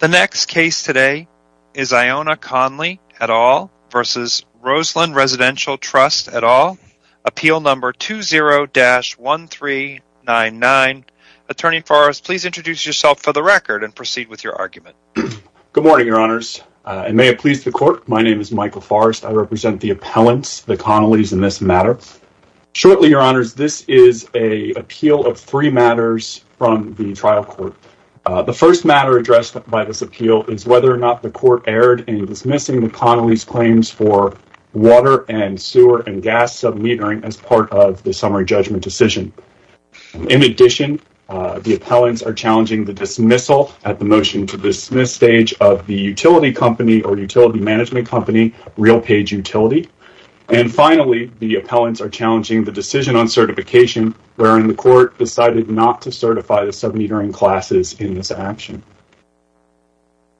The next case today is Iona Conley et al. v. Roseland Residential Trust et al. Appeal number 20-1399. Attorney Forrest, please introduce yourself for the record and proceed with your argument. Good morning, Your Honors. And may it please the court, my name is Michael Forrest. I represent the appellants, the Connellys in this matter. Shortly, Your Honors, this is an appeal of three The first matter addressed by this appeal is whether or not the court erred in dismissing the Connellys' claims for water and sewer and gas submetering as part of the summary judgment decision. In addition, the appellants are challenging the dismissal at the motion to dismiss stage of the utility company or utility management company, RealPage Utility. And finally, the appellants are challenging the decision on certification wherein the court decided not to certify the metering classes in this action.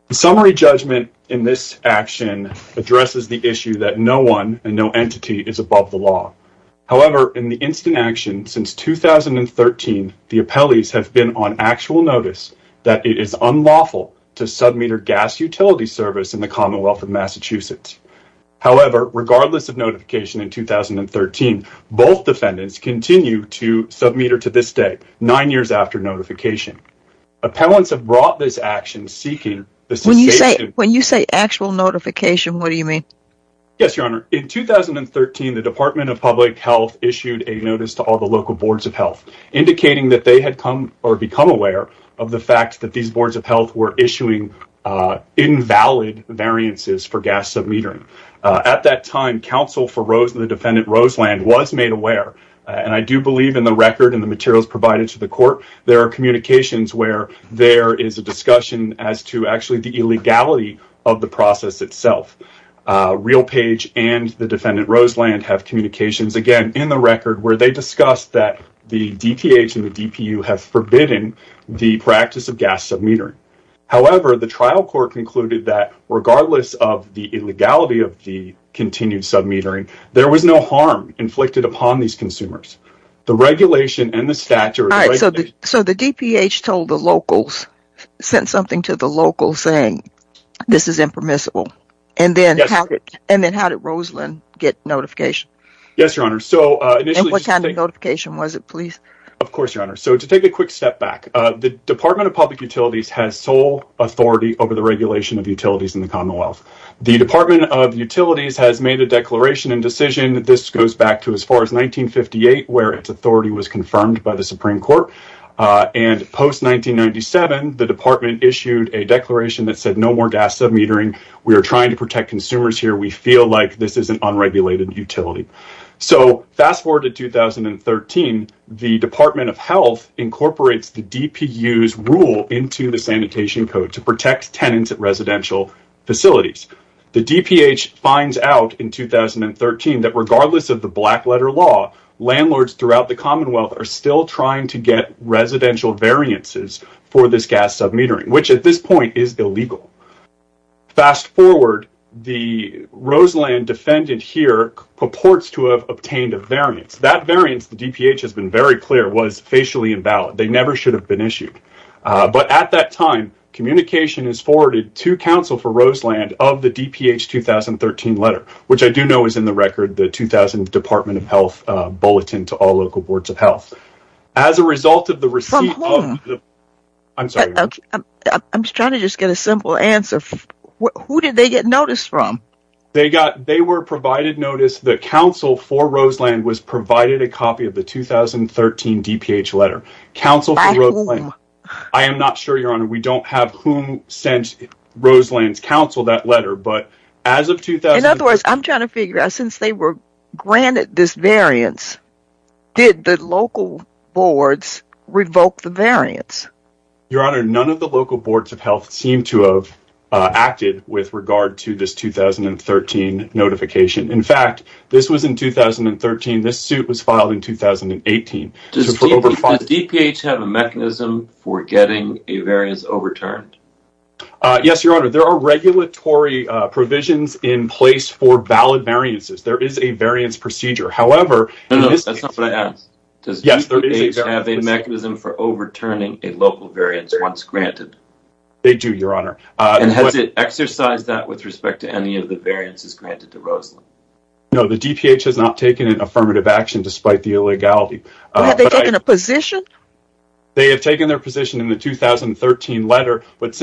The summary judgment in this action addresses the issue that no one and no entity is above the law. However, in the instant action since 2013, the appellees have been on actual notice that it is unlawful to submeter gas utility service in the Commonwealth of Massachusetts. However, regardless of notification in 2013, both defendants continue to notification. Appellants have brought this action seeking... When you say actual notification, what do you mean? Yes, Your Honor. In 2013, the Department of Public Health issued a notice to all the local boards of health indicating that they had come or become aware of the fact that these boards of health were issuing invalid variances for gas submetering. At that time, counsel for Rose and the defendant Roseland was made aware, and I do believe in the record and materials provided to the court, there are communications where there is a discussion as to actually the illegality of the process itself. Real Page and the defendant Roseland have communications, again, in the record where they discuss that the DTH and the DPU have forbidden the practice of gas submetering. However, the trial court concluded that regardless of the illegality of the continued submetering, there was no harm inflicted upon these consumers. The regulation and the statute... So the DPH told the locals, sent something to the locals saying this is impermissible, and then how did Roseland get notification? Yes, Your Honor. So what kind of notification was it, please? Of course, Your Honor. So to take a quick step back, the Department of Public Utilities has sole authority over the regulation of utilities in the Commonwealth. The Department of Utilities has made a declaration and decision. This goes back to as far as 1958, where its authority was confirmed by the Supreme Court, and post-1997, the Department issued a declaration that said no more gas submetering. We are trying to protect consumers here. We feel like this is an unregulated utility. So fast forward to 2013, the Department of Health incorporates the DPU's rule into the Sanitation Code to protect tenants at residential facilities. The DPH finds out in 2013 that regardless of the black letter law, landlords throughout the Commonwealth are still trying to get residential variances for this gas submetering, which at this point is illegal. Fast forward, the Roseland defendant here purports to have obtained a variance. That variance, the DPH has been very clear, was facially invalid. They never should have been Roseland of the DPH 2013 letter, which I do know is in the record, the 2000 Department of Health bulletin to all local boards of health. As a result of the receipt, I'm sorry, I'm just trying to just get a simple answer. Who did they get notice from? They got, they were provided notice that counsel for Roseland was provided a copy of the 2013 DPH letter. Counsel for Roseland? I am not sure, Your Honor, I'm trying to figure out, since they were granted this variance, did the local boards revoke the variance? Your Honor, none of the local boards of health seem to have acted with regard to this 2013 notification. In fact, this was in 2013. This suit was filed in 2018. Does the DPH have a mechanism for getting a variance overturned? Yes, Your Honor, there are regulatory provisions in place for valid variances. There is a variance procedure. However, does the DPH have a mechanism for overturning a local variance once granted? They do, Your Honor. And has it exercised that with respect to any of the variances granted to Roseland? No, the DPH has not taken an affirmative action despite the illegality. Have they taken a position? They have taken their position in the 2013 letter. At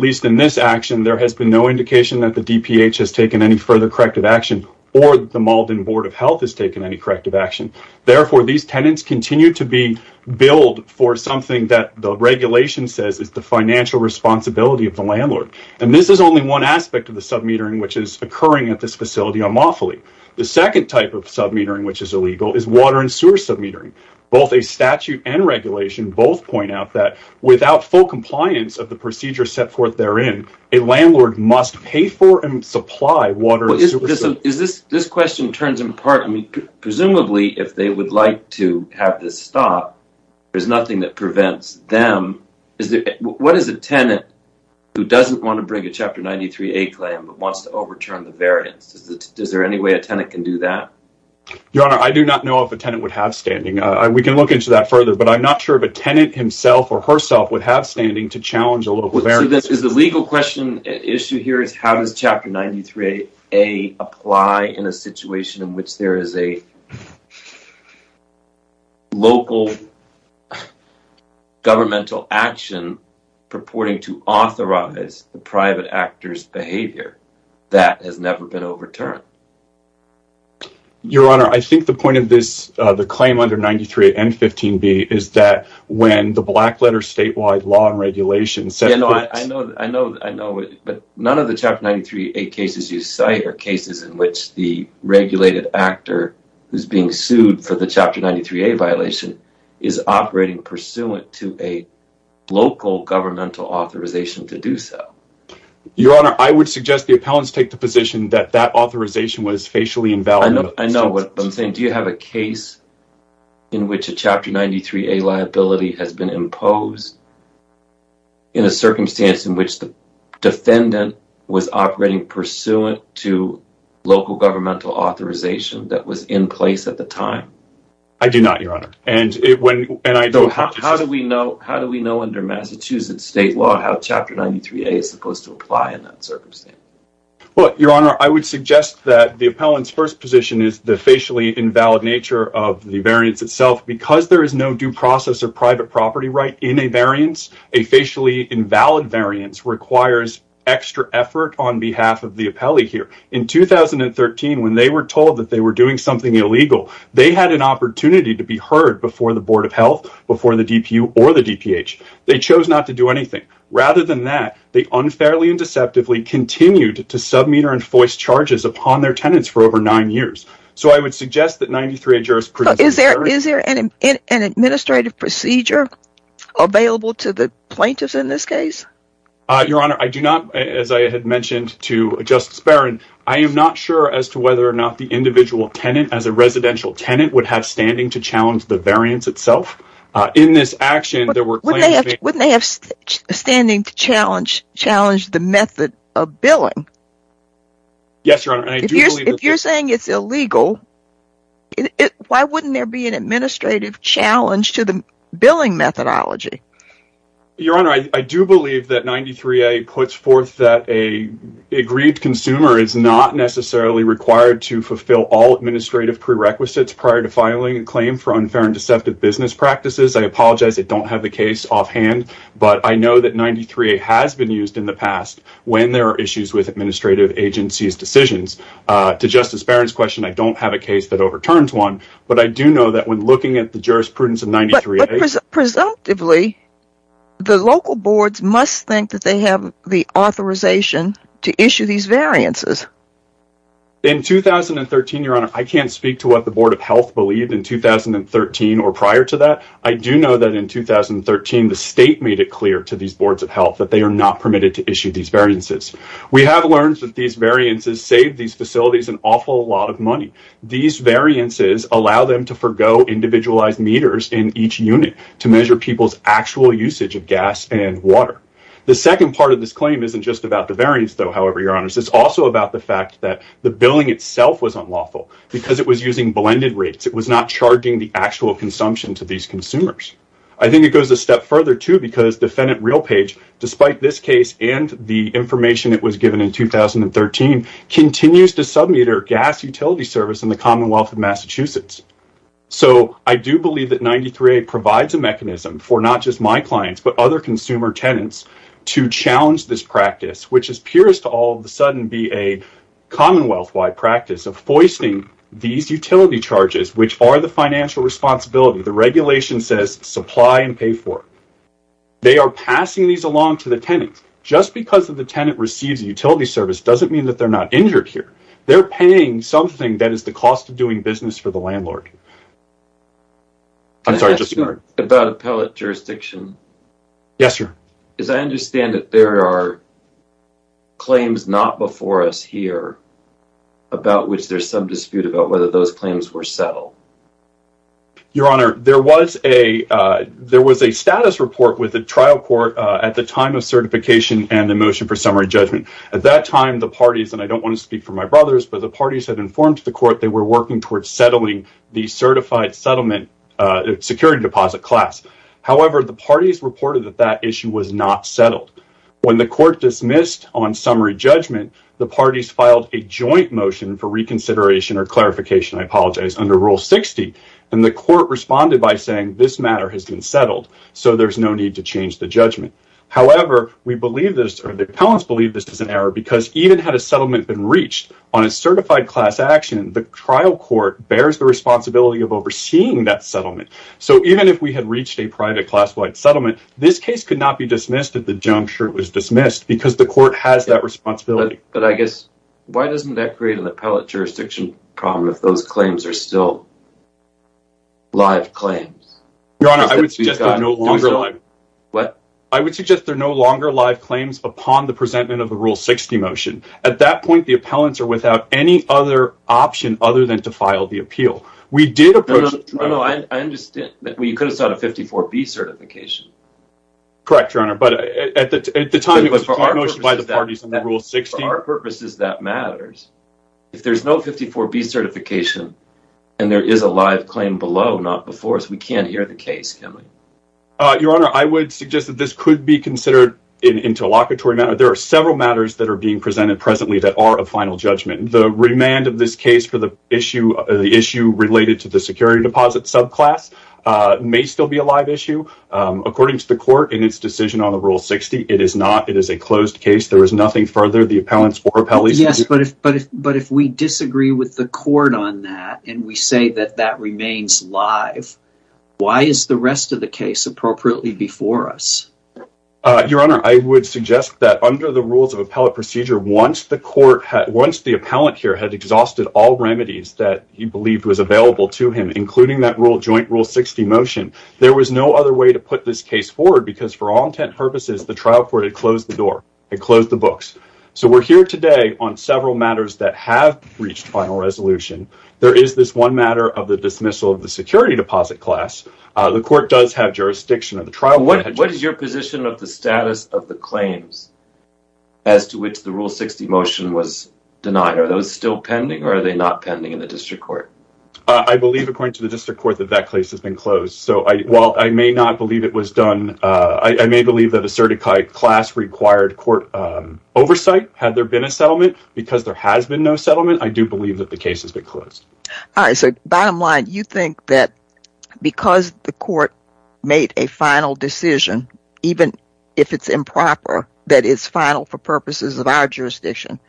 least in this action, there has been no indication that the DPH has taken any further corrective action or the Malden Board of Health has taken any corrective action. Therefore, these tenants continue to be billed for something that the regulation says is the financial responsibility of the landlord. And this is only one aspect of the sub-metering which is occurring at this facility unlawfully. The second type of sub-metering which is illegal is water and sewer sub-metering. Both a statute and regulation both point out that without full compliance of the procedure set forth therein, a landlord must pay for and supply water and sewer sub-metering. This question turns in part, presumably if they would like to have this stopped, there's nothing that prevents them. What is a tenant who doesn't want to bring a Chapter 93A claim but wants to overturn the variance? Is there any way a tenant can do that? Your Honor, I do not know if a tenant would have standing. We can look into that further, but I'm not sure if a tenant himself or herself would have standing to challenge a local variance. So the legal question issue here is how does Chapter 93A apply in a situation in which there is a local governmental action purporting to authorize the private actor's behavior that has never been overturned? Your Honor, I think the point of this the claim under 93A and 15B is that when the black-letter statewide law and regulation... I know, but none of the Chapter 93A cases you cite are cases in which the regulated actor who's being sued for the Chapter 93A violation is operating pursuant to a local governmental authorization to do so. Your Honor, I would suggest the appellants take the position that that authorization was facially invalid. I know what I'm saying. Do you have a case in which a Chapter 93A liability has been imposed in a circumstance in which the defendant was operating pursuant to local governmental authorization that was in place at the time? I do not, Your Honor. How do we know under Massachusetts state law how Chapter 93A is supposed to apply in that circumstance? Well, Your Honor, I would suggest the facially invalid nature of the variance itself. Because there is no due process or private property right in a variance, a facially invalid variance requires extra effort on behalf of the appellee here. In 2013, when they were told that they were doing something illegal, they had an opportunity to be heard before the Board of Health, before the DPU, or the DPH. They chose not to do anything. Rather than that, they unfairly and deceptively continued to submit or for over nine years. So I would suggest that 93A jurisprudence... Is there an administrative procedure available to the plaintiffs in this case? Your Honor, I do not, as I had mentioned to Justice Barron, I am not sure as to whether or not the individual tenant, as a residential tenant, would have standing to challenge the variance itself. In this action, there were... Wouldn't they have standing to challenge the method of billing? Yes, Your Honor. If you're saying it's illegal, why wouldn't there be an administrative challenge to the billing methodology? Your Honor, I do believe that 93A puts forth that a agreed consumer is not necessarily required to fulfill all administrative prerequisites prior to filing a claim for unfair and deceptive business practices. I apologize, I don't have the case offhand, but I know that 93A has been used in the past when there are issues with administrative agencies decisions. To Justice Barron's question, I don't have a case that overturns one, but I do know that when looking at the jurisprudence of 93A... Presumptively, the local boards must think that they have the authorization to issue these variances. In 2013, Your Honor, I can't speak to what the Board of Health believed in 2013 or prior to that. I do know that in 2013, the state made it clear to these boards of health that they are not permitted to issue these variances. We have learned that these variances save these facilities an awful lot of money. These variances allow them to forgo individualized meters in each unit to measure people's actual usage of gas and water. The second part of this claim isn't just about the variance, though, however, Your Honors. It's also about the fact that the billing itself was not charging the actual consumption to these consumers. I think it goes a step further, too, because Defendant Realpage, despite this case and the information that was given in 2013, continues to sub meter gas utility service in the Commonwealth of Massachusetts. So I do believe that 93A provides a mechanism for not just my clients but other consumer tenants to challenge this practice, which appears to all of a sudden be a commonwealth-wide practice of foisting these utility charges, which are the financial responsibility. The regulation says supply and pay for it. They are passing these along to the tenant. Just because the tenant receives a utility service doesn't mean that they're not injured here. They're paying something that is the cost of doing business for the landlord. I'm sorry, just a word. Can I ask you about appellate jurisdiction? Yes, sir. As I understand it, there are claims not before us here about which there's some dispute about whether those claims were settled. Your Honor, there was a status report with the trial court at the time of certification and the motion for summary judgment. At that time, the parties, and I don't want to speak for my brothers, but the parties had informed the court they were working towards settling the certified settlement security deposit class. However, the parties reported that that issue was not settled. When the court dismissed on summary judgment, the parties filed a joint motion for reconsideration or clarification, I apologize, under Rule 60, and the court responded by saying this matter has been settled, so there's no need to change the judgment. However, we believe this, or the appellants believe this is an error because even had a settlement been reached on a certified class action, the trial court bears the responsibility of overseeing that settlement. So even if we had reached a private class-wide settlement, this case could not be dismissed if the junk shirt was dismissed because the court has that responsibility. But I guess, why doesn't that create an appellate jurisdiction problem if those claims are still live claims? Your Honor, I would suggest they're no longer live. What? I would suggest they're no longer live claims upon the presentment of the Rule 60 motion. At that point, the appellants are without any other option other than to file the appeal. We did approach the trial court. No, no, I understand. You could have sought a 54B certification. Correct, Your Honor, but at the time it was motioned by the parties in the Rule 60. For our purposes, that matters. If there's no 54B certification and there is a live claim below, not before us, we can't hear the case, can we? Your Honor, I would suggest that this could be considered an interlocutory matter. There are several matters that are being presented presently that are of final judgment. The remand of this case for the issue related to the security deposit subclass may still be a live issue. According to the court in its decision on the Rule 60, it is not. It is a closed case. There is nothing further the appellants or appellees can do. Yes, but if we disagree with the court on that and we say that that remains live, why is the rest of the case appropriately before us? Your Honor, I would suggest that under the rules of appellate procedure, once the court had, once the appellant here had exhausted all remedies that he believed was available to him, including that joint Rule 60 motion, there was no other way to put this case forward because for all intent and purposes, the trial court had closed the door. It closed the books. So we're here today on several matters that have reached final resolution. There is this one matter of the dismissal of the security deposit class. The court does have jurisdiction of the trial. What is your position of the status of the claims as to which the Rule 60 motion was denied? Are those still pending or are they not pending in the district court? I believe according to the district court that that case has been closed. So while I may not believe it was done, I may believe that a certified class required court oversight had there been a settlement. Because there has been no settlement, I do believe that the case has been closed. All right, so bottom line, you think that because the court made a final decision, even if it's improper, that is final for purposes of our jurisdiction,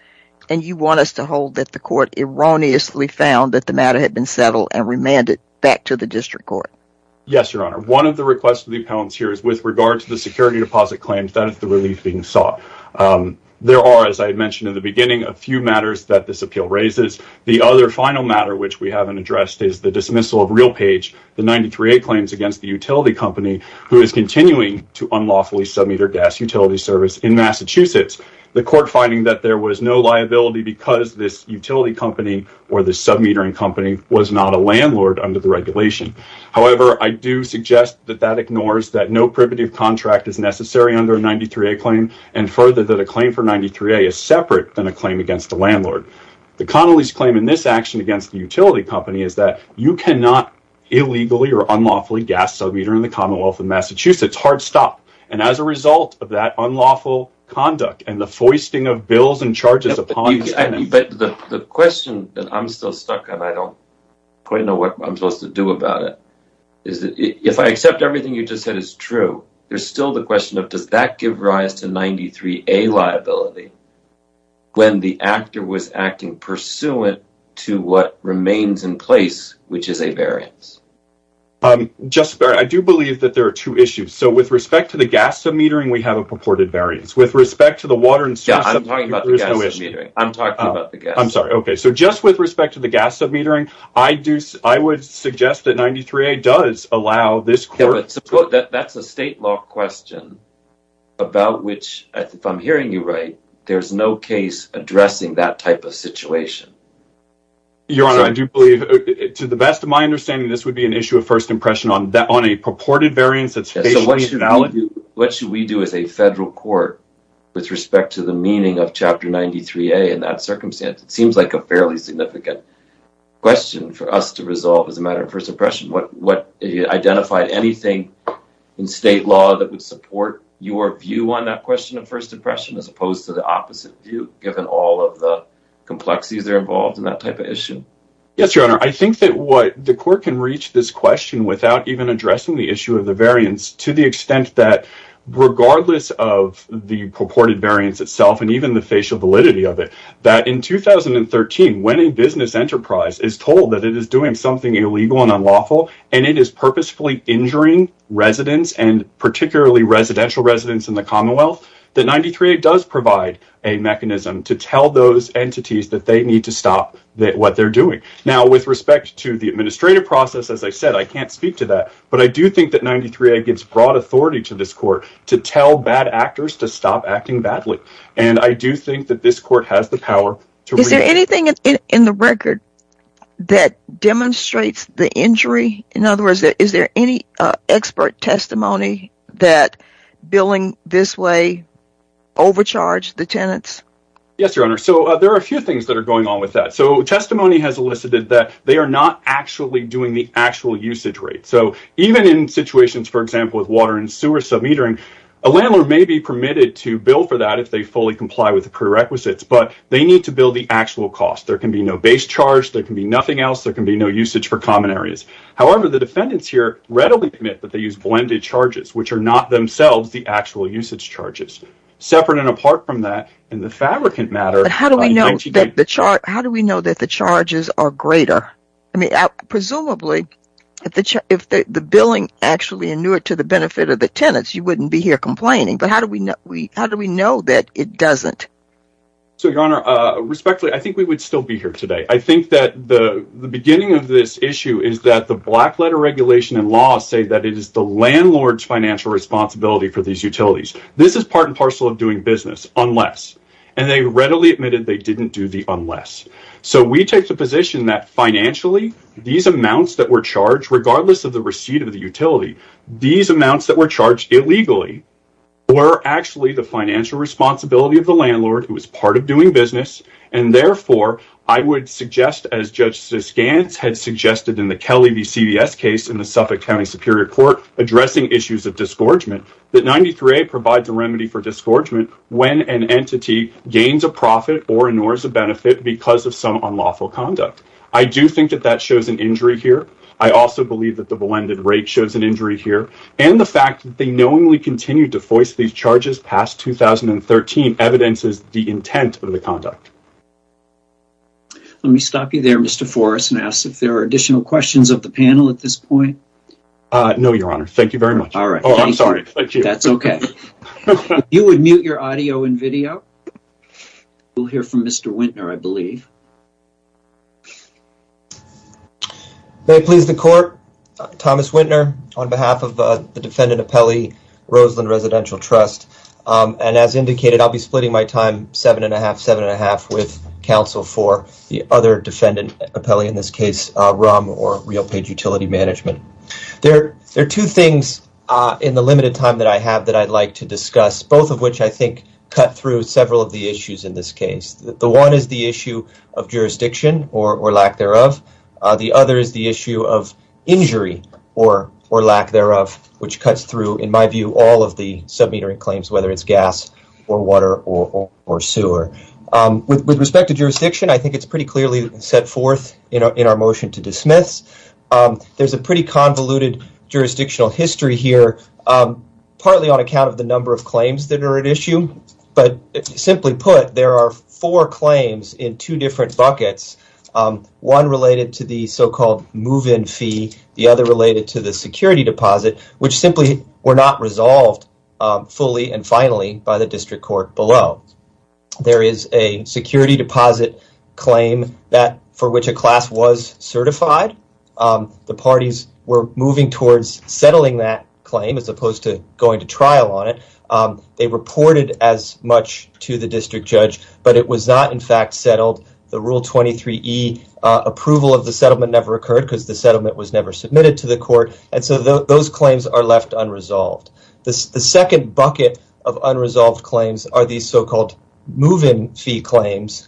and you want us to hold that the court erroneously found that the matter had been settled and remanded back to the district court? Yes, Your Honor. One of the requests of the appellants here is with regard to the security deposit claims, that is the relief being sought. There are, as I mentioned in the beginning, a few matters that this appeal raises. The other final matter which we haven't addressed is the dismissal of Realpage, the 93A claims against the utility company who is continuing to unlawfully submit their gas utility service in Massachusetts. The court finding that there was no liability because this utility company or the sub-metering company was not a landlord under the regulation. However, I do suggest that that ignores that no primitive contract is necessary under a 93A claim, and further that a claim for 93A is separate than a claim against the landlord. The Connolly's claim in this action against the utility company is that you cannot illegally or unlawfully gas sub-meter in the Commonwealth of Massachusetts. Hard stop. And as a result of that unlawful conduct and the foisting of bills and charges upon you. But the question that I'm still stuck on, I don't quite know what I'm supposed to do about it, is that if I accept everything you just said is true, there's still the question of does that give rise to 93A liability when the actor was acting pursuant to what remains in place, which is a variance? Just, I do believe that there are two issues. So with respect to the gas sub-metering, we have a purported variance. With respect to the water and sewage sub-metering, there's no issue. I'm talking about the gas. I'm sorry, okay. So just with respect to the gas sub-metering, I do, I would suggest that 93A does allow this court... That's a state law question about which, if I'm hearing you right, there's no case addressing that type of situation. Your Honor, I do believe, to the best of my understanding, this would be an issue of first impression on that, on a purported variance that's basically valid. What should we do as a federal court with respect to the meaning of Chapter 93A in that circumstance? It seems like a fairly significant question for us to resolve as a matter of first impression. What, what, have you identified anything in state law that would support your view on that question of first impression, as opposed to the opposite view, given all of the complexities that are involved in that type of issue? Yes, Your Honor, I think that what the court can reach this question without even addressing the issue of the variance, to the extent that, regardless of the purported variance itself, and even the facial validity of it, that in 2013, when a business enterprise is told that it is doing something illegal and unlawful, and it is purposefully injuring residents, and particularly residential residents in the Commonwealth, that 93A does provide a mechanism to tell those entities that they need to stop that what they're doing. Now, with respect to the administrative process, as I said, I can't speak to that, but I do think that 93A gives broad authority to this court to tell bad actors to stop acting badly, and I do think that this court has the power. Is there anything in the record that demonstrates the injury? In other words, is there any expert testimony that billing this way overcharged the tenants? Yes, Your Honor, so there are a few things that are going on with that. So, testimony has elicited that they are not actually doing the actual usage rate. So, even in situations, for example, with water and sewer submetering, a landlord may be permitted to bill for that if they fully comply with the prerequisites, but they need to bill the actual cost. There can be no base charge, there can be nothing else, there can be no usage for common areas. However, the defendants here readily admit that they use blended charges, which are not themselves the actual usage charges. Separate and apart from that, in the fabricant matter... But how do we know that the charges are greater? I mean, presumably, if the billing actually inured to the benefit of the tenants, you wouldn't be here complaining, but how do we know that it doesn't? So, Your Honor, respectfully, I think we would still be here today. I think that the beginning of this issue is that the black letter regulation and laws say that it is the landlord's financial responsibility for these utilities. This is part and parcel of doing business, unless... And they readily admitted they didn't do the unless. So, we take the position that financially, these amounts that were charged, regardless of the receipt of the utility, these amounts that were charged illegally were actually the financial responsibility of the landlord, who was part of doing business, and therefore, I would suggest, as Justice Gants had suggested in the Kelly v. CVS case in the provides a remedy for disgorgement when an entity gains a profit or inures a benefit because of some unlawful conduct. I do think that that shows an injury here. I also believe that the blended rate shows an injury here, and the fact that they knowingly continued to voice these charges past 2013 evidences the intent of the conduct. Let me stop you there, Mr. Forrest, and ask if there are additional questions of the panel at this point. No, Your Honor. Thank you very much. Okay, you would mute your audio and video. We'll hear from Mr. Wintner, I believe. May it please the Court, Thomas Wintner on behalf of the Defendant Appellee, Roseland Residential Trust, and as indicated, I'll be splitting my time seven and a half, seven and a half, with counsel for the other Defendant Appellee, in this case, RUM or Real Page Utility Management. There are two things in the limited time that I have that I'd like to discuss, both of which I think cut through several of the issues in this case. The one is the issue of jurisdiction or lack thereof. The other is the issue of injury or lack thereof, which cuts through, in my view, all of the submetering claims, whether it's gas or water or sewer. With respect to jurisdiction, I think it's pretty clearly set forth in our motion to dismiss. There's a pretty convoluted jurisdictional history here, partly on account of the number of claims that are at issue, but simply put, there are four claims in two different buckets, one related to the so-called move-in fee, the other related to the security deposit, which simply were not resolved fully and finally by the District Court below. There is a security deposit claim that for which a class was certified. The settling that claim, as opposed to going to trial on it, they reported as much to the District Judge, but it was not in fact settled. The Rule 23e approval of the settlement never occurred because the settlement was never submitted to the court, and so those claims are left unresolved. The second bucket of unresolved claims are these so-called move-in fee claims.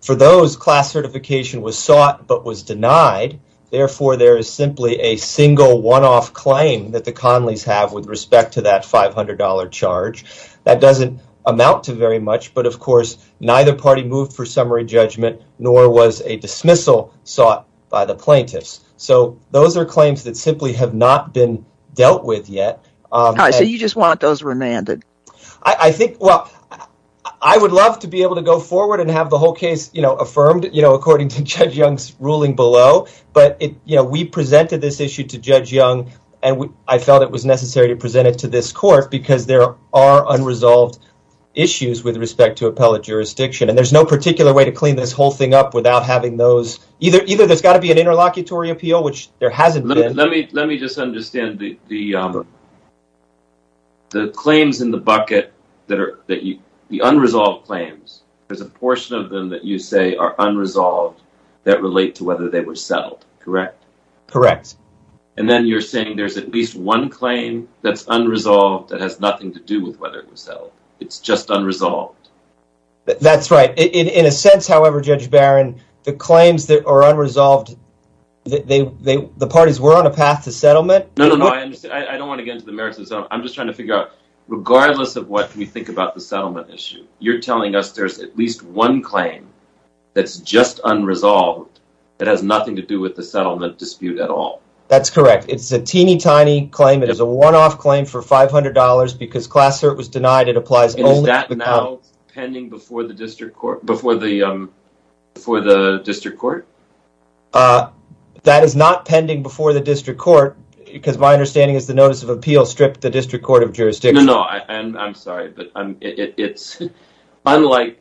For those, class certification was sought but was denied. Therefore, there is simply a single one-off claim that the Conleys have with respect to that $500 charge. That doesn't amount to very much, but of course neither party moved for summary judgment nor was a dismissal sought by the plaintiffs. So those are claims that simply have not been dealt with yet. So you just want those remanded? I think well, I would love to be able to go forward and have the whole case affirmed, according to Judge Young's ruling below, but we presented this issue to Judge Young and I felt it was necessary to present it to this court because there are unresolved issues with respect to appellate jurisdiction, and there's no particular way to clean this whole thing up without having those. Either there's got to be an interlocutory appeal, which there hasn't been. Let me just understand the claims in the bucket that are the unresolved claims. There's a portion of them that you say are correct. And then you're saying there's at least one claim that's unresolved that has nothing to do with whether it was settled. It's just unresolved. That's right. In a sense, however, Judge Barron, the claims that are unresolved, the parties were on a path to settlement. No, no, no, I understand. I don't want to get into the merits of the settlement. I'm just trying to figure out, regardless of what we think about the settlement issue, you're telling us there's at least one claim that's just unresolved that has nothing to do with the settlement dispute at all. That's correct. It's a teeny-tiny claim. It is a one-off claim for $500 because class cert was denied. It applies only to the... Is that now pending before the district court? That is not pending before the district court, because my understanding is the notice of appeal stripped the district court of jurisdiction. No, no, I'm sorry, but it's unlike,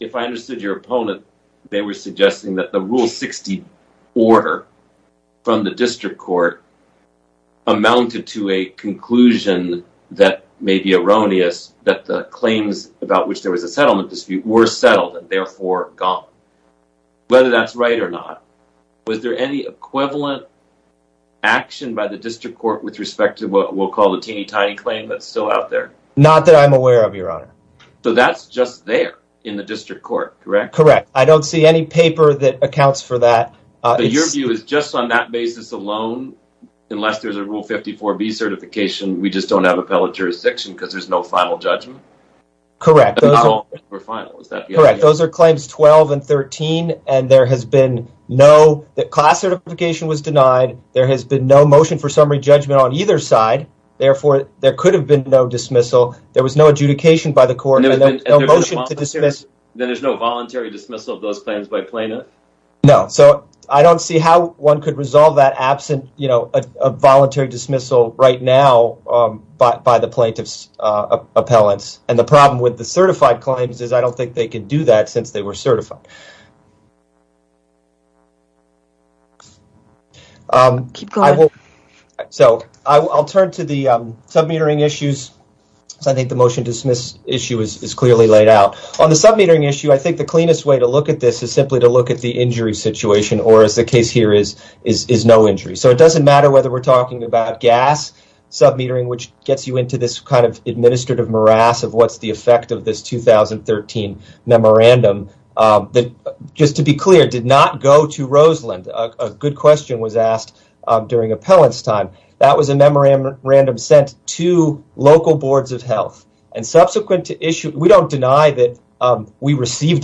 if I understood your opponent, they were suggesting that the Rule 60 order from the district court amounted to a conclusion that may be erroneous, that the claims about which there was a settlement dispute were settled and therefore gone. Whether that's right or not, was there any equivalent action by the district court with respect to what we'll call the teeny-tiny claim that's still out there? Not that I'm aware of, correct? Correct. I don't see any paper that accounts for that. But your view is just on that basis alone, unless there's a Rule 54B certification, we just don't have appellate jurisdiction because there's no final judgment? Correct. Those are claims 12 and 13, and there has been no... the class certification was denied, there has been no motion for summary judgment on either side, therefore there could have been no dismissal. There was no adjudication by the court, no motion to voluntary dismissal of those claims by plaintiff? No. So, I don't see how one could resolve that absent, you know, a voluntary dismissal right now by the plaintiff's appellants. And the problem with the certified claims is I don't think they could do that since they were certified. So, I'll turn to the submetering issues. I think the motion to dismiss issue is the cleanest way to look at this is simply to look at the injury situation, or as the case here is, is no injury. So, it doesn't matter whether we're talking about gas submetering, which gets you into this kind of administrative morass of what's the effect of this 2013 memorandum that, just to be clear, did not go to Roseland. A good question was asked during appellant's time. That was a memorandum sent to local boards of health, and subsequent to issue... we don't the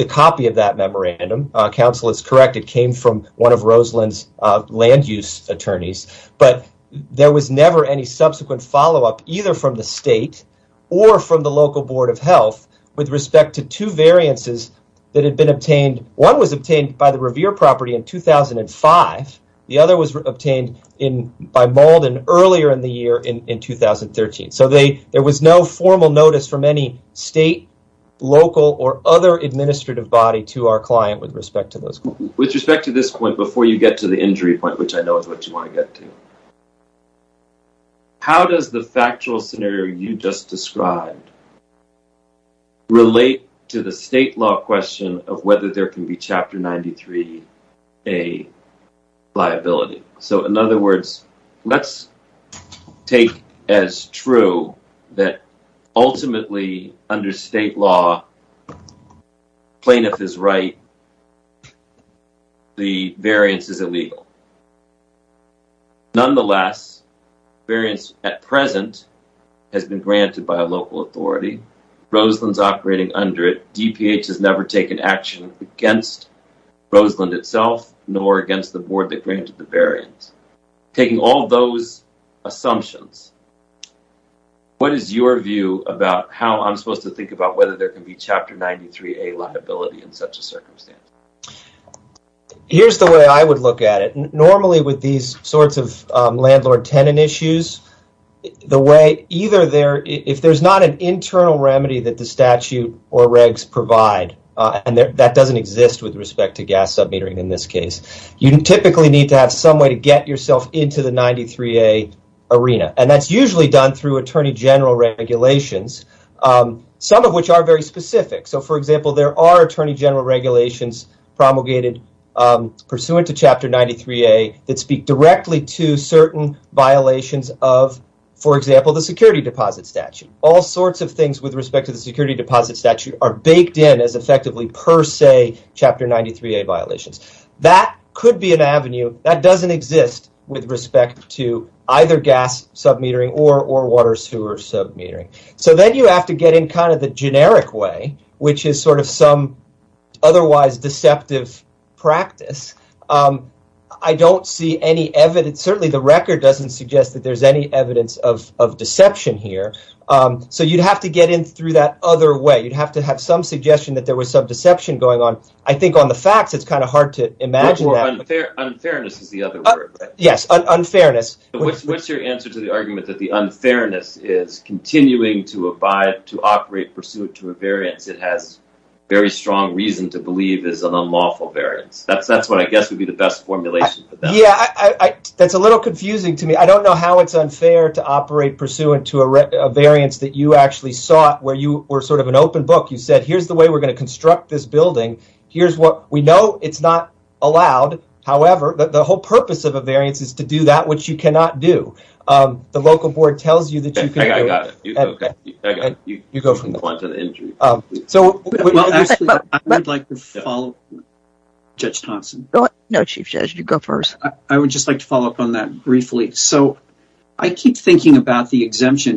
copy of that memorandum. Counsel is correct. It came from one of Roseland's land-use attorneys, but there was never any subsequent follow-up, either from the state or from the local board of health, with respect to two variances that had been obtained. One was obtained by the Revere property in 2005. The other was obtained by Malden earlier in the year, in 2013. So, there was no formal notice from any state, local, or other administrative body to our client with respect to those. With respect to this point, before you get to the injury point, which I know is what you want to get to, how does the factual scenario you just described relate to the state law question of whether there can be Chapter 93A liability? So, in other words, let's take as true that ultimately, under state law, plaintiff is right, the variance is illegal. Nonetheless, variance at present has been granted by a local authority. Roseland's operating under it. DPH has not passed Roseland itself, nor against the board that granted the variance. Taking all those assumptions, what is your view about how I'm supposed to think about whether there can be Chapter 93A liability in such a circumstance? Here's the way I would look at it. Normally, with these sorts of landlord- tenant issues, the way either there, if there's not an internal remedy that the respect to gas sub-metering in this case, you typically need to have some way to get yourself into the 93A arena. That's usually done through Attorney General regulations, some of which are very specific. For example, there are Attorney General regulations promulgated pursuant to Chapter 93A that speak directly to certain violations of, for example, the security deposit statute. All sorts of things with respect to the security deposit statute are baked in as effectively per, say, Chapter 93A violations. That could be an avenue that doesn't exist with respect to either gas sub-metering or water sewer sub-metering. Then you have to get in the generic way, which is some otherwise deceptive practice. I don't see any evidence. Certainly, the record doesn't suggest that there's any evidence of deception here. You'd have to get in through that other way. You'd have to have some suggestion that there was some deception going on. I think on the facts, it's kind of hard to imagine that. Unfairness is the other word. Yes, unfairness. What's your answer to the argument that the unfairness is continuing to abide, to operate pursuant to a variance that has very strong reason to believe is an unlawful variance? That's what I guess would be the best formulation. Yeah, that's a little confusing to me. I don't know how it's unfair to operate pursuant to a variance that you actually sought, where you were sort of an open book. You said, here's the way we're going to construct this building. We know it's not allowed. However, the whole purpose of a variance is to do that, which you cannot do. The local board tells you that you can do it. I got it. You go from the point of the injury. I would like to follow up on that briefly. I keep thinking about the statute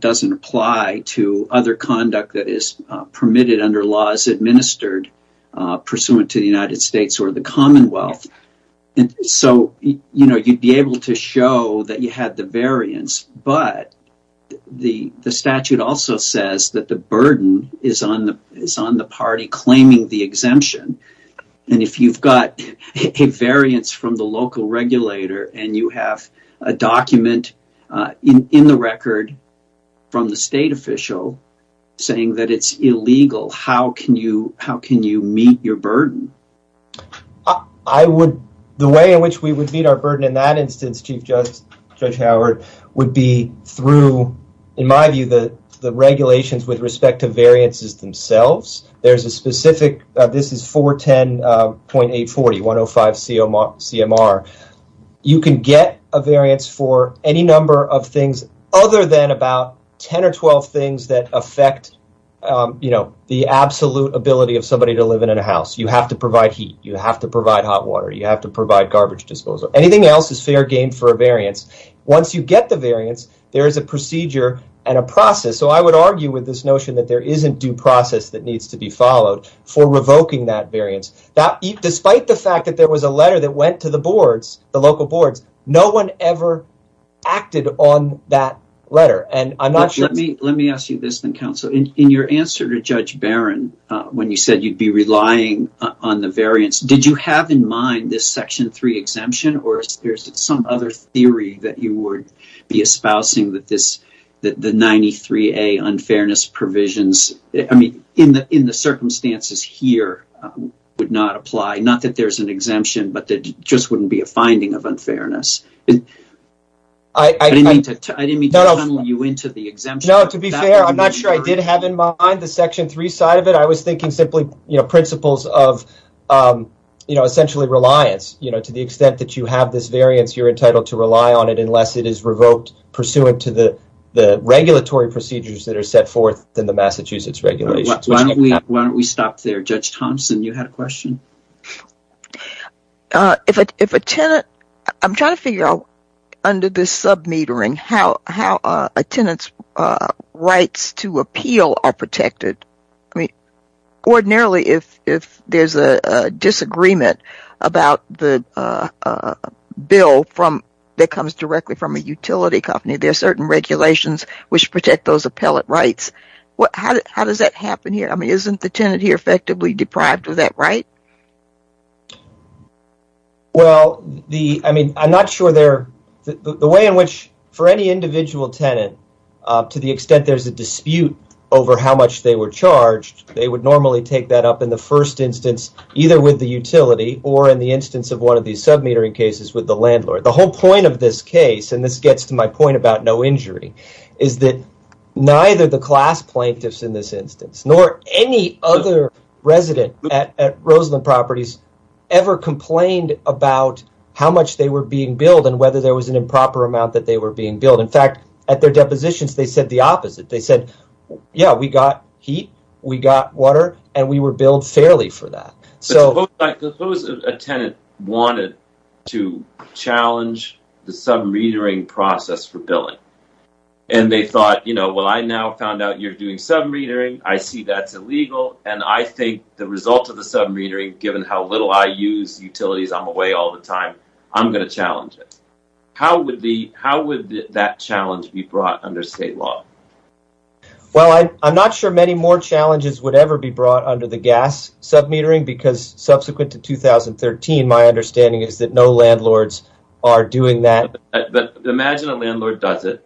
doesn't apply to other conduct that is permitted under laws administered pursuant to the United States or the Commonwealth. You'd be able to show that you had the variance, but the statute also says that the burden is on the party claiming the exemption. If you've got a variance from the local regulator and you have a document in the record from the state official saying that it's illegal, how can you meet your burden? The way in which we would meet our burden in that instance, Chief Judge Howard, would be through, in my view, the regulations with respect to variances themselves. There's a specific, this is 410.840, 105 CMR. You can get a variance for any number of things other than about 10 or 12 things that affect the absolute ability of somebody to live in a house. You have to provide heat. You have to provide hot water. You have to provide garbage disposal. Anything else is fair game for a variance. Once you get the variance, there is a procedure and a process. I would argue with this notion that there isn't due process that needs to be followed for revoking that variance. Despite the fact that there was a letter that went to the boards, the local boards, no one ever acted on that letter. Let me ask you this then, counsel. In your answer to Judge Barron when you said you'd be relying on the variance, did you have in mind this Section 3 exemption or is there some other theory that you would be espousing that the 93A unfairness provisions in the circumstances here would not apply? Not that there's an exemption, but that it just wouldn't be a finding of unfairness. I didn't mean to tunnel you into the exemption. To be fair, I'm not sure I did have in mind the Section 3 side of it. I was thinking simply principles of essentially reliance. To the extent that you have this variance, you're entitled to rely on it unless it is revoked pursuant to the regulatory procedures that are set forth in the Massachusetts regulations. Why don't we stop there? Judge Thompson, you had a question. I'm trying to figure out under this sub-metering how a tenant's rights to appeal are protected. Ordinarily, if there's a disagreement about the bill that comes directly from a utility company, there are certain regulations which protect those appellate rights. How does that happen here? I mean, isn't the tenant here effectively deprived of that right? Well, I'm not sure the way in which for any individual tenant, to the extent there's a dispute over how much they were charged, they would normally take that up in the first instance either with the utility or in the sub-metering cases with the landlord. The whole point of this case, and this gets to my point about no injury, is that neither the class plaintiffs in this instance nor any other resident at Roseland Properties ever complained about how much they were being billed and whether there was an improper amount that they were being billed. In fact, at their depositions, they said the opposite. They said, yeah, we got heat, we got water, and we were billed fairly for that. Suppose a tenant wanted to challenge the sub-metering process for billing, and they thought, you know, well, I now found out you're doing sub-metering, I see that's illegal, and I think the result of the sub-metering, given how little I use utilities, I'm away all the time, I'm going to challenge it. How would that challenge be brought under state law? Well, I'm not sure many more challenges would ever be brought under the gas sub-metering, because subsequent to 2013, my understanding is that no landlords are doing that. But imagine a landlord does it,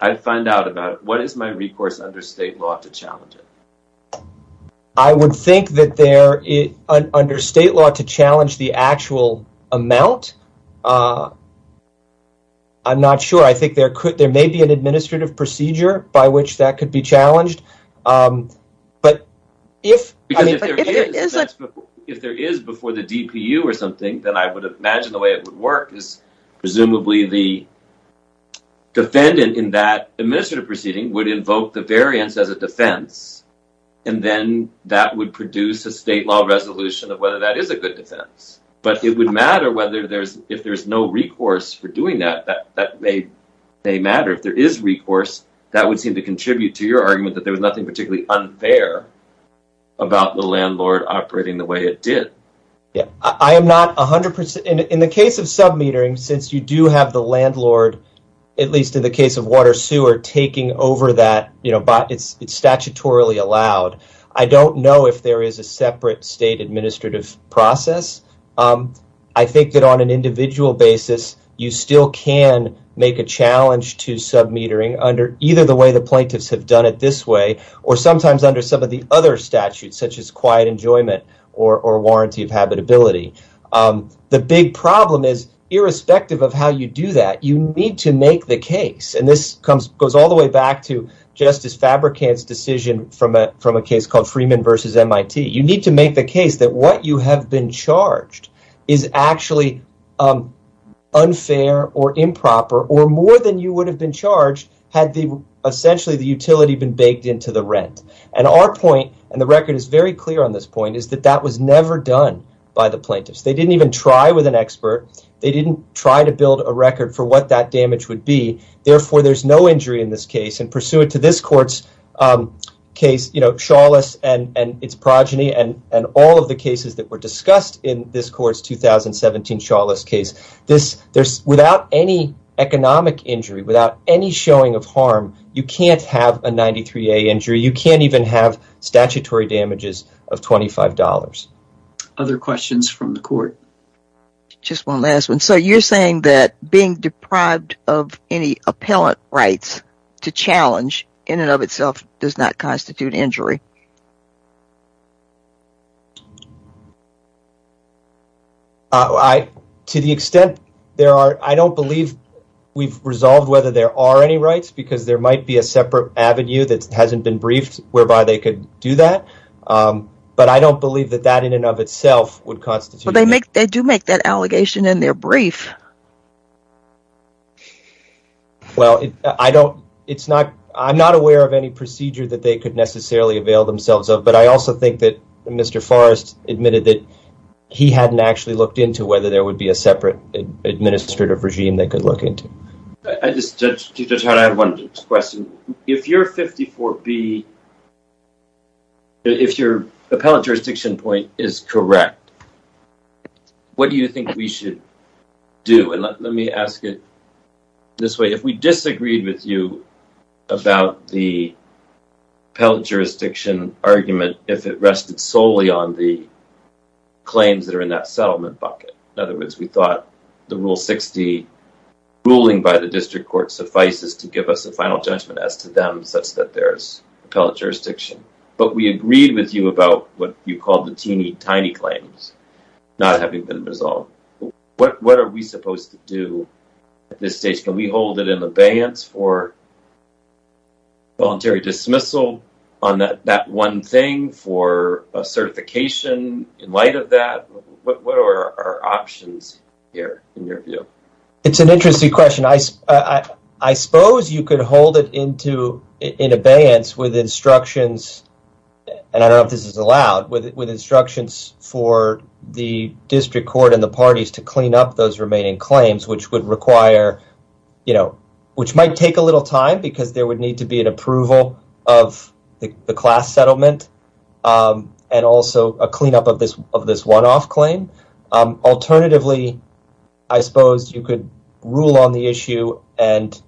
I'd find out about it. What is my recourse under state law to challenge it? I would think that there, under state law, to challenge the actual amount, I'm not sure. I think there could, there could be a way to challenge it. If there is before the DPU or something, then I would imagine the way it would work is presumably the defendant in that administrative proceeding would invoke the variance as a defense, and then that would produce a state law resolution of whether that is a good defense. But it would matter whether there's, if there's no recourse for doing that, that may matter. If there is recourse, that would seem to contribute to your argument that there was nothing particularly unfair about the landlord operating the way it did. Yeah, I am not a hundred percent, in the case of sub-metering, since you do have the landlord, at least in the case of water sewer, taking over that, you know, but it's statutorily allowed. I don't know if there is a separate state administrative process. I think that on an individual basis, you still can make a challenge to sub-metering under either the way the plaintiffs have done it this way, or sometimes under some of the other statutes, such as quiet enjoyment or warranty of habitability. The big problem is, irrespective of how you do that, you need to make the case. And this comes, goes all the way back to Justice Fabrikant's decision from a case called Freeman versus MIT. You need to make the case that what you have been charged is actually unfair or improper, or more than you would have been charged, had essentially the utility been baked into the rent. And our point, and the record is very clear on this point, is that that was never done by the plaintiffs. They didn't even try with an expert. They didn't try to build a record for what that damage would be. Therefore, there's no injury in this case, and pursuant to this court's case, you know, Chalice and its progeny, and all of the cases that were discussed in this court's 2017 Chalice case, without any economic injury, without any showing of harm, you can't have a 93A injury. You can't even have statutory damages of $25. Other questions from the court? Just one last one. So you're saying that being deprived of any appellant rights to challenge, in and of itself, does not constitute injury? To the extent there are, I don't believe we've resolved whether there are any rights, because there might be a separate avenue that hasn't been briefed, whereby they could do that. But I don't believe that that, in and of itself, would constitute... They do make that allegation in their brief. Well, I don't, it's not, I'm not aware of any procedure that they could necessarily avail themselves of, but I also think that Mr. Forrest admitted that he hadn't actually looked into whether there would be a separate administrative regime they could look into. I just, to try to add one question, if you're 54B, if your appellant jurisdiction point is correct, what do you think we should do? And let me ask it this way. If we disagreed with you about the appellant jurisdiction argument, if it rested solely on the claims that are in that settlement bucket, in other words, we thought the Rule 60 ruling by the district court suffices to give us a final judgment as to them, such that there's appellant jurisdiction. But we agreed with you about what you call the teeny tiny claims not having been resolved. What are we supposed to do at this stage? Can we hold it in abeyance for voluntary dismissal on that one thing, for a certification in light of that? What are our options here, in your view? It's an interesting question. I suppose you could hold it into, in abeyance with instructions, and I don't know if this is allowed, with instructions for the district court and the parties to clean up those remaining claims, which would require, which might take a little time because there would need to be an approval of the class settlement and also a cleanup of this one-off claim. Alternatively, I suppose you could rule on the issue and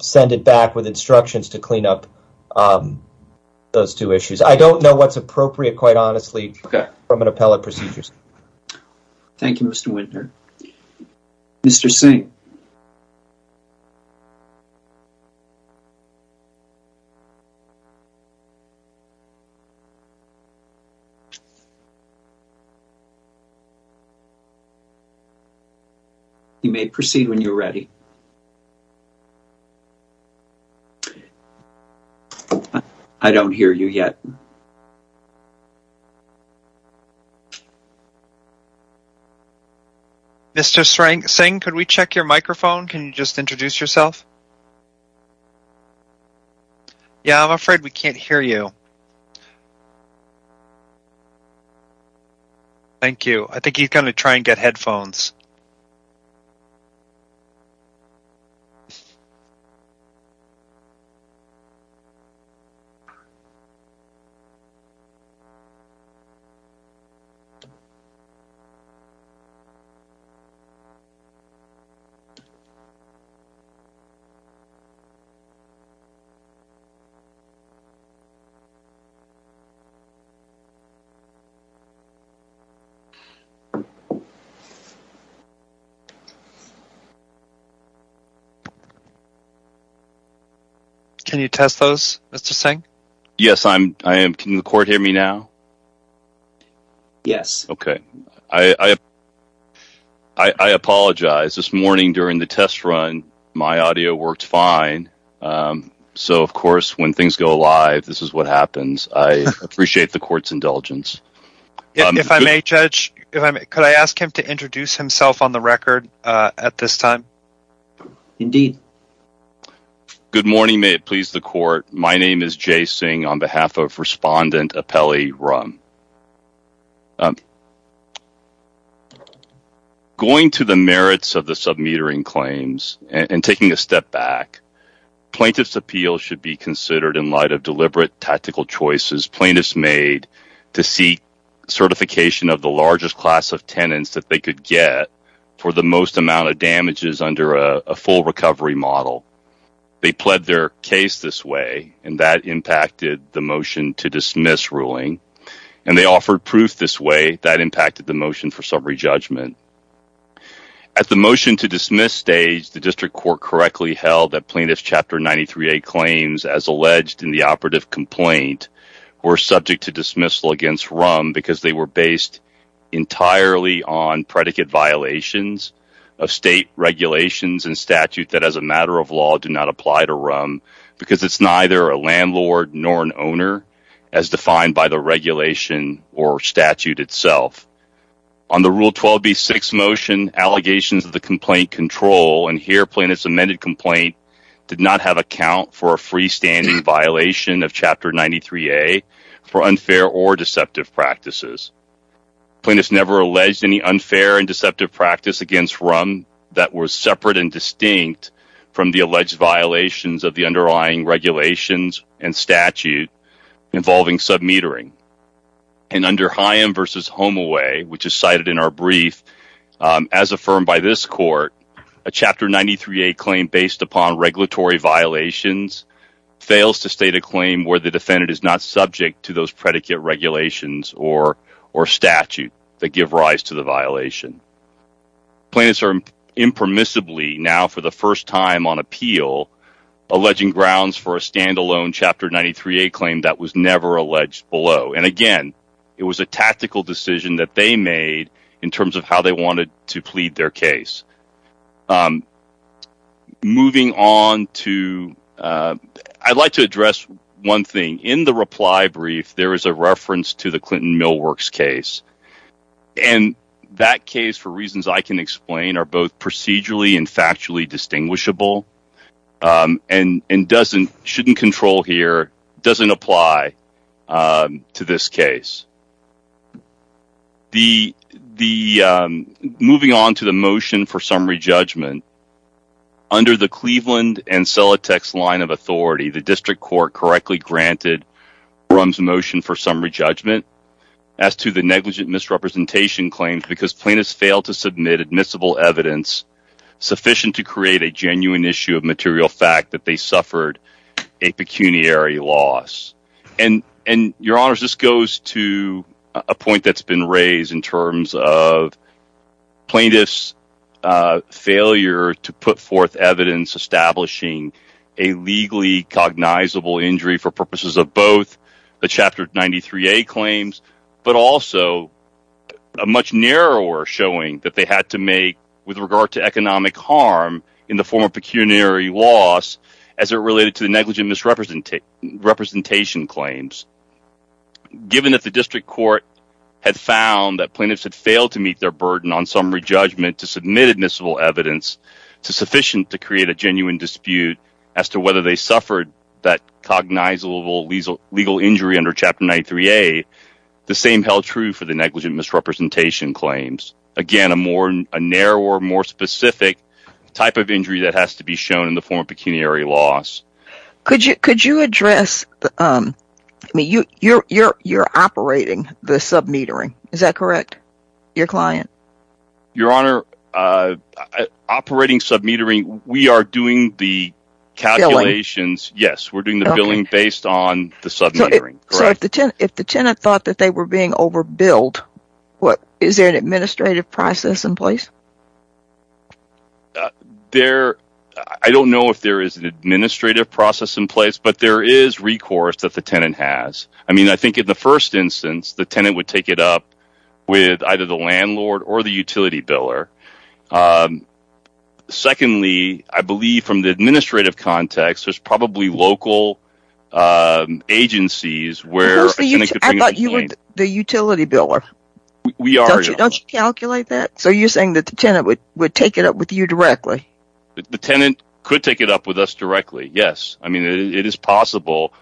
send it back with instructions to clean up those two issues. I don't know what's appropriate, quite honestly, from an appellate procedure. Thank you, Mr. Wintner. Mr. Singh? I don't hear you yet. Mr. Singh, could we check your microphone? Can you just introduce yourself? Yeah, I'm afraid we can't hear you. Thank you. I think he's going to try and get headphones. Can you test those, Mr. Singh? Yes, I am. Can the court hear me now? Yes. Okay. I apologize. This morning during the test run, my audio worked fine. So, of course, when things go live, this is what happens. I appreciate the court's indulgence. If I may, Judge, could I ask him to introduce himself on the record at this time? Indeed. Good morning. May it please the court. My name is Jay Singh on behalf of Respondent Apelli Rumm. Going to the merits of the sub-metering claims and taking a step back, plaintiff's appeal should be considered in light of deliberate tactical choices plaintiffs made to seek certification of the largest class of tenants that they could get for the most amount of damages under a full recovery model. They pled their case this way, and that impacted the motion to dismiss ruling, and they offered proof this way that impacted the motion for summary judgment. At the motion to dismiss stage, the district court correctly held that plaintiff's Chapter 93A claims as alleged in the operative complaint were subject to dismissal against Rumm because they were based entirely on predicate violations of state regulations and statute that as a matter of law do not apply to Rumm because it's neither a landlord nor an owner as defined by the regulation or statute itself. On the Rule 12b6 motion, allegations of the complaint control and here plaintiff's amended complaint did not have account for a freestanding violation of Chapter 93A for unfair or deceptive practices. Plaintiffs never alleged any unfair and deceptive practice against Rumm that was separate and distinct from the alleged violations of the underlying regulations and statute involving sub-metering. And under Higham v. Homeaway, which is cited in our brief, as affirmed by this court, a Chapter 93A claim based upon regulatory violations fails to state a claim where the defendant is not subject to those predicate regulations or statute that give rise to the violation. Plaintiffs are impermissibly now for the first time on appeal alleging grounds for a standalone Chapter 93A claim that was never alleged below. And again, it was a tactical decision that they made in terms of how they wanted to plead their case. I'd like to address one thing. In the reply brief, there is a reference to the Clinton Millworks case. And that case, for reasons I can explain, are both procedurally and factually distinguishable and shouldn't control here, doesn't apply to this case. Moving on to the motion for summary judgment, under the Cleveland and Celotex line of authority, the District Court correctly granted Rumm's motion for summary judgment as to the negligent misrepresentation claims because plaintiffs failed to submit admissible evidence sufficient to create a genuine issue of material fact that they suffered a pecuniary loss. And, a point that's been raised in terms of plaintiffs' failure to put forth evidence establishing a legally cognizable injury for purposes of both the Chapter 93A claims, but also a much narrower showing that they had to make with regard to economic harm in the form of pecuniary loss as it related to the negligent misrepresentation claims. Given that the District Court had found that plaintiffs had failed to meet their burden on summary judgment to submit admissible evidence sufficient to create a genuine dispute as to whether they suffered that cognizable legal injury under Chapter 93A, the same held true for the negligent misrepresentation claims. Again, a narrower, more specific type of injury that has to be shown in form of pecuniary loss. Could you address, I mean, you're operating the sub-metering, is that correct, your client? Your Honor, operating sub-metering, we are doing the calculations, yes, we're doing the billing based on the sub-metering. So, if the tenant thought that they were being over-billed, what, is there an administrative process in place? There, I don't know if there is an administrative process in place, but there is recourse that the tenant has. I mean, I think in the first instance, the tenant would take it up with either the landlord or the utility biller. Secondly, I believe from the administrative context, there's probably local agencies where a tenant could bring up a claim. I thought you were the utility biller. We are, Your Honor. The tenant would take it up with you directly? The tenant could take it up with us directly, yes. I mean, it is possible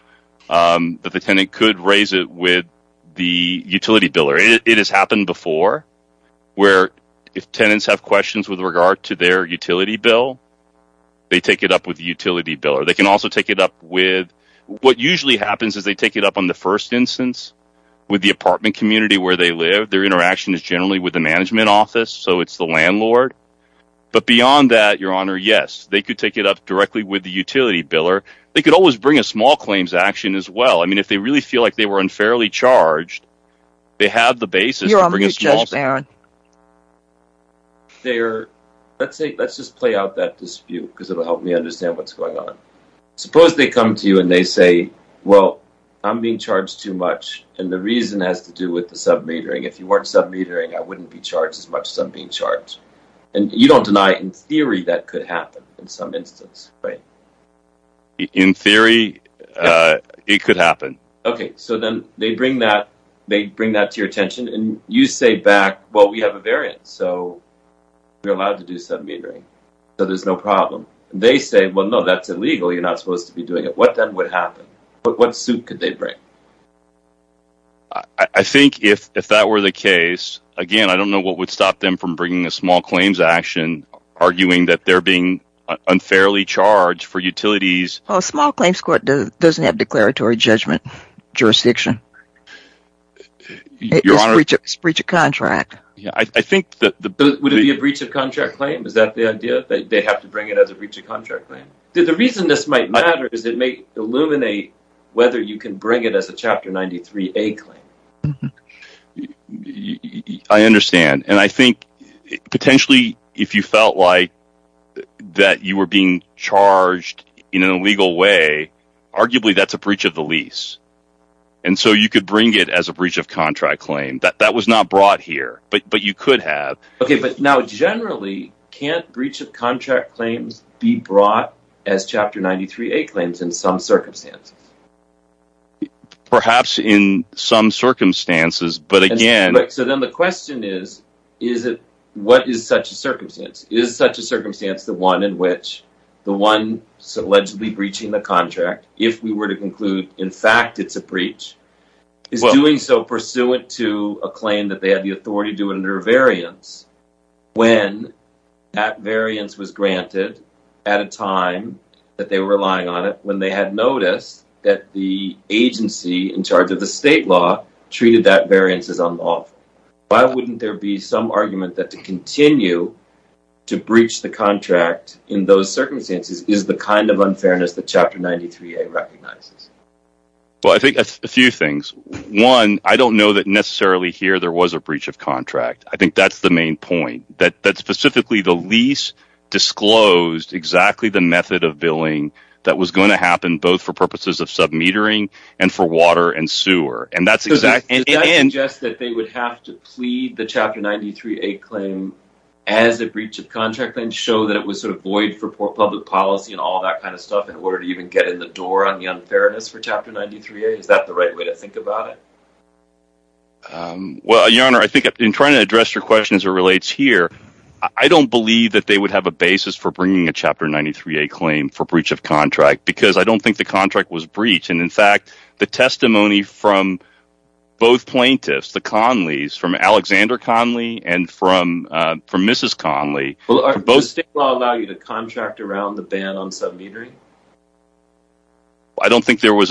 that the tenant could raise it with the utility biller. It has happened before where if tenants have questions with regard to their utility bill, they take it up with the utility biller. They can also take it up with, what usually happens is they take it up on the first instance with the apartment community where they live. Their interaction is generally with the management office, so it's the landlord. But beyond that, Your Honor, yes, they could take it up directly with the utility biller. They could always bring a small claims action as well. I mean, if they really feel like they were unfairly charged, they have the basis to bring a small claim. You're on mute, Judge Barron. There, let's just play out that dispute because it'll help me understand what's going on. Suppose they come to you and they say, well, I'm being charged too much and the reason has to do with the submetering. If you weren't submetering, I wouldn't be charged as much as I'm being charged. And you don't deny in theory that could happen in some instance, right? In theory, it could happen. Okay, so then they bring that to your attention and you say back, well, we have a variant, so you're allowed to do submetering, so there's no problem. They say, well, no, that's illegal. You're not supposed to be doing it. What then would happen? What suit could they bring? I think if that were the case, again, I don't know what would stop them from bringing a small claims action, arguing that they're being unfairly charged for utilities. Well, a small claims court doesn't have declaratory judgment jurisdiction. It's breach of contract. Yeah, I think that the... Would it be a breach of contract claim? Is that the idea that they have to bring it as a breach of contract claim? The reason this might matter is it may illuminate whether you can bring it as a Chapter 93A claim. I understand. And I think potentially if you felt like that you were being charged in an illegal way, arguably that's a breach of the lease. And so you could bring it as a breach of contract claim. That was not brought here, but you could have. Okay, but now generally can't breach of contract claims be brought as Chapter 93A claims in some circumstances? Perhaps in some circumstances, but again... So then the question is, what is such a circumstance? Is such a circumstance the one in which the one allegedly breaching the contract, if we were to conclude, in fact, it's a breach, is doing so pursuant to a claim that they had the authority to do it under a variance. When that variance was granted at a time that they were relying on it, when they had noticed that the agency in charge of the state law treated that variance as unlawful, why wouldn't there be some argument that to continue to breach the contract in those circumstances is the kind of unfairness that Chapter 93A recognizes? Well, I think a few things. One, I don't know that necessarily here there was a breach of contract. I think that's the main point, that specifically the lease disclosed exactly the of submetering and for water and sewer. And that's exactly... Does that suggest that they would have to plead the Chapter 93A claim as a breach of contract and show that it was sort of void for public policy and all that kind of stuff in order to even get in the door on the unfairness for Chapter 93A? Is that the right way to think about it? Well, Your Honor, I think in trying to address your question as it relates here, I don't believe that they would have a basis for bringing a Chapter 93A claim for breach of contract because I don't think the contract was breached. And in fact, the testimony from both plaintiffs, the Conleys, from Alexander Conley and from Mrs. Conley... Well, does state law allow you to contract around the ban on submetering? I don't think there is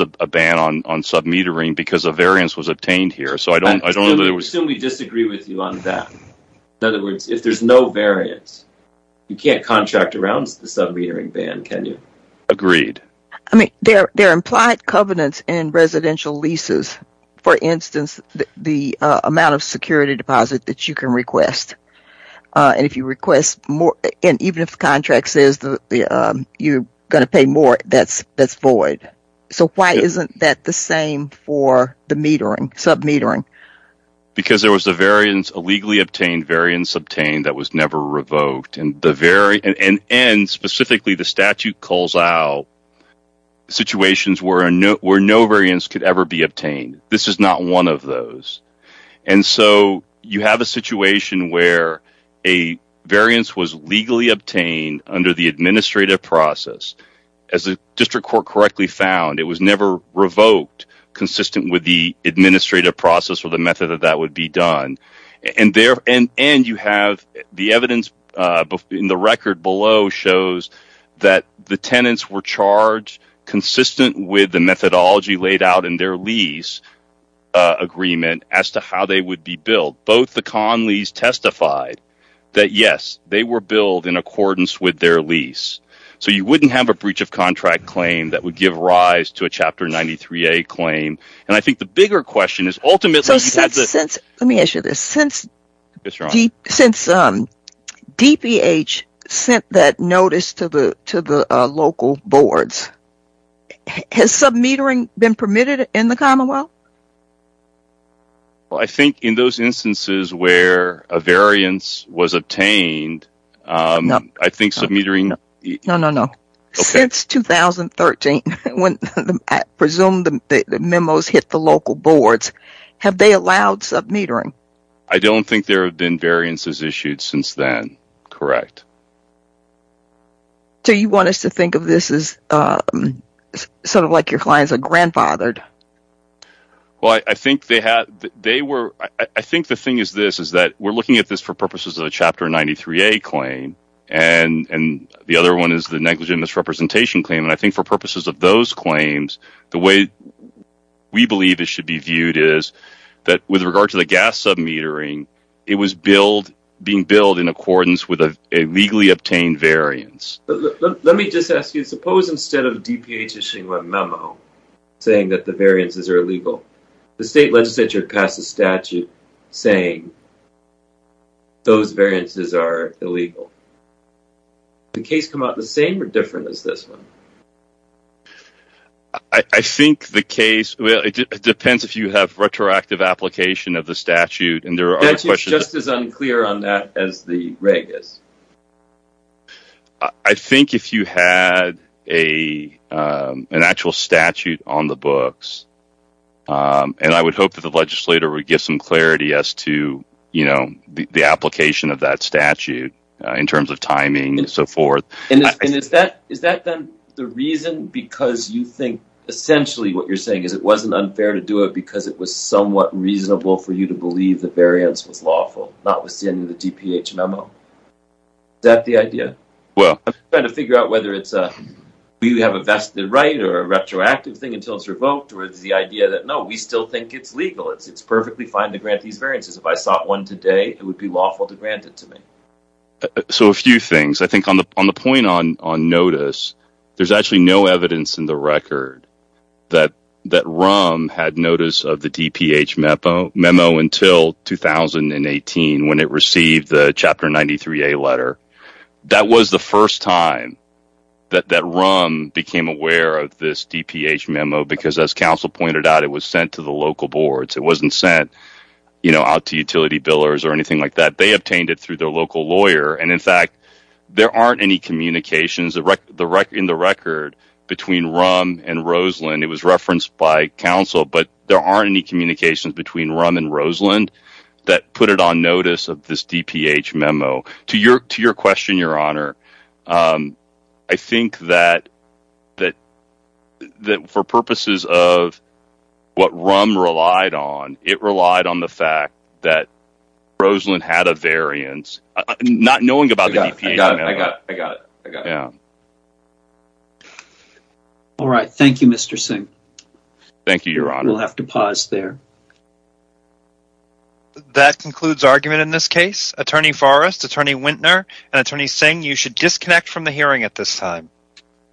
a ban on submetering because a variance was obtained here, so I don't know that there was... I assume we disagree with you on that. In other words, if there's no variance, you can't agree. I mean, there are implied covenants in residential leases. For instance, the amount of security deposit that you can request. And if you request more, and even if the contract says you're going to pay more, that's void. So why isn't that the same for the metering, submetering? Because there was a variance, a legally obtained variance obtained that was never revoked, and specifically the statute calls out situations where no variance could ever be obtained. This is not one of those. And so you have a situation where a variance was legally obtained under the administrative process. As the district court correctly found, it was never revoked consistent with the administrative process or the method that that would be done. And the evidence in the record below shows that the tenants were charged consistent with the methodology laid out in their lease agreement as to how they would be billed. Both the Conleys testified that, yes, they were billed in accordance with their lease. So you wouldn't have a breach of contract claim that would give rise to a Chapter 93A claim. And I think the bigger question is ultimately... Let me ask you this. Since DPH sent that notice to the local boards, has submetering been permitted in the Commonwealth? I think in those instances where a variance was obtained, I think submetering... No, no, no. Since 2013, when I presume the memos hit the local boards, have they allowed submetering? I don't think there have been variances issued since then. Correct. So you want us to think of this as something like your clients are grandfathered? Well, I think the thing is this, is that we're looking at this for purposes of a Chapter 93A claim. And the other one is the negligent misrepresentation claim. And I think for is that with regard to the gas submetering, it was being billed in accordance with a legally obtained variance. Let me just ask you, suppose instead of DPH issuing a memo saying that the variances are illegal, the state legislature passed a statute saying those variances are illegal. Did the case come out the same or different as this one? I think the case, well, it depends if you have retroactive application of the statute. And there are questions... That's just as unclear on that as the reg is. I think if you had an actual statute on the books, and I would hope that the legislator would give some clarity as to the application of that statute in terms of timing and so forth. And is that then the reason because you think essentially what you're saying is it wasn't unfair to do it because it was somewhat reasonable for you to believe the variance was lawful, not withstanding the DPH memo? Is that the idea? Well... Trying to figure out whether it's a... Do you have a vested right or a retroactive thing until it's revoked? Or is the idea that, no, we still think it's legal. It's perfectly fine to grant these variances. If I sought one today, it would be lawful to grant it to me. So a few things. I think on the point on notice, there's actually no evidence in the record that RUM had notice of the DPH memo until 2018 when it received the Chapter 93A letter. That was the first time that RUM became aware of this DPH memo because as council pointed out, it was sent to the local boards. It wasn't sent out to utility billers or anything like that. They obtained it through their local lawyer. And in fact, there aren't any communications in the record between RUM and Roseland. It was referenced by council, but there aren't any communications between RUM and Roseland that put it on notice of this DPH memo. To your question, Your Honor, I think that for purposes of what RUM relied on, it relied on the fact that Roseland had a variance. Not knowing about the DPH memo. I got it. All right. Thank you, Mr. Singh. Thank you, Your Honor. We'll have to pause there. That concludes argument in this case. Attorney Forrest, Attorney Wintner, and Attorney Singh, you should disconnect from the hearing at this time.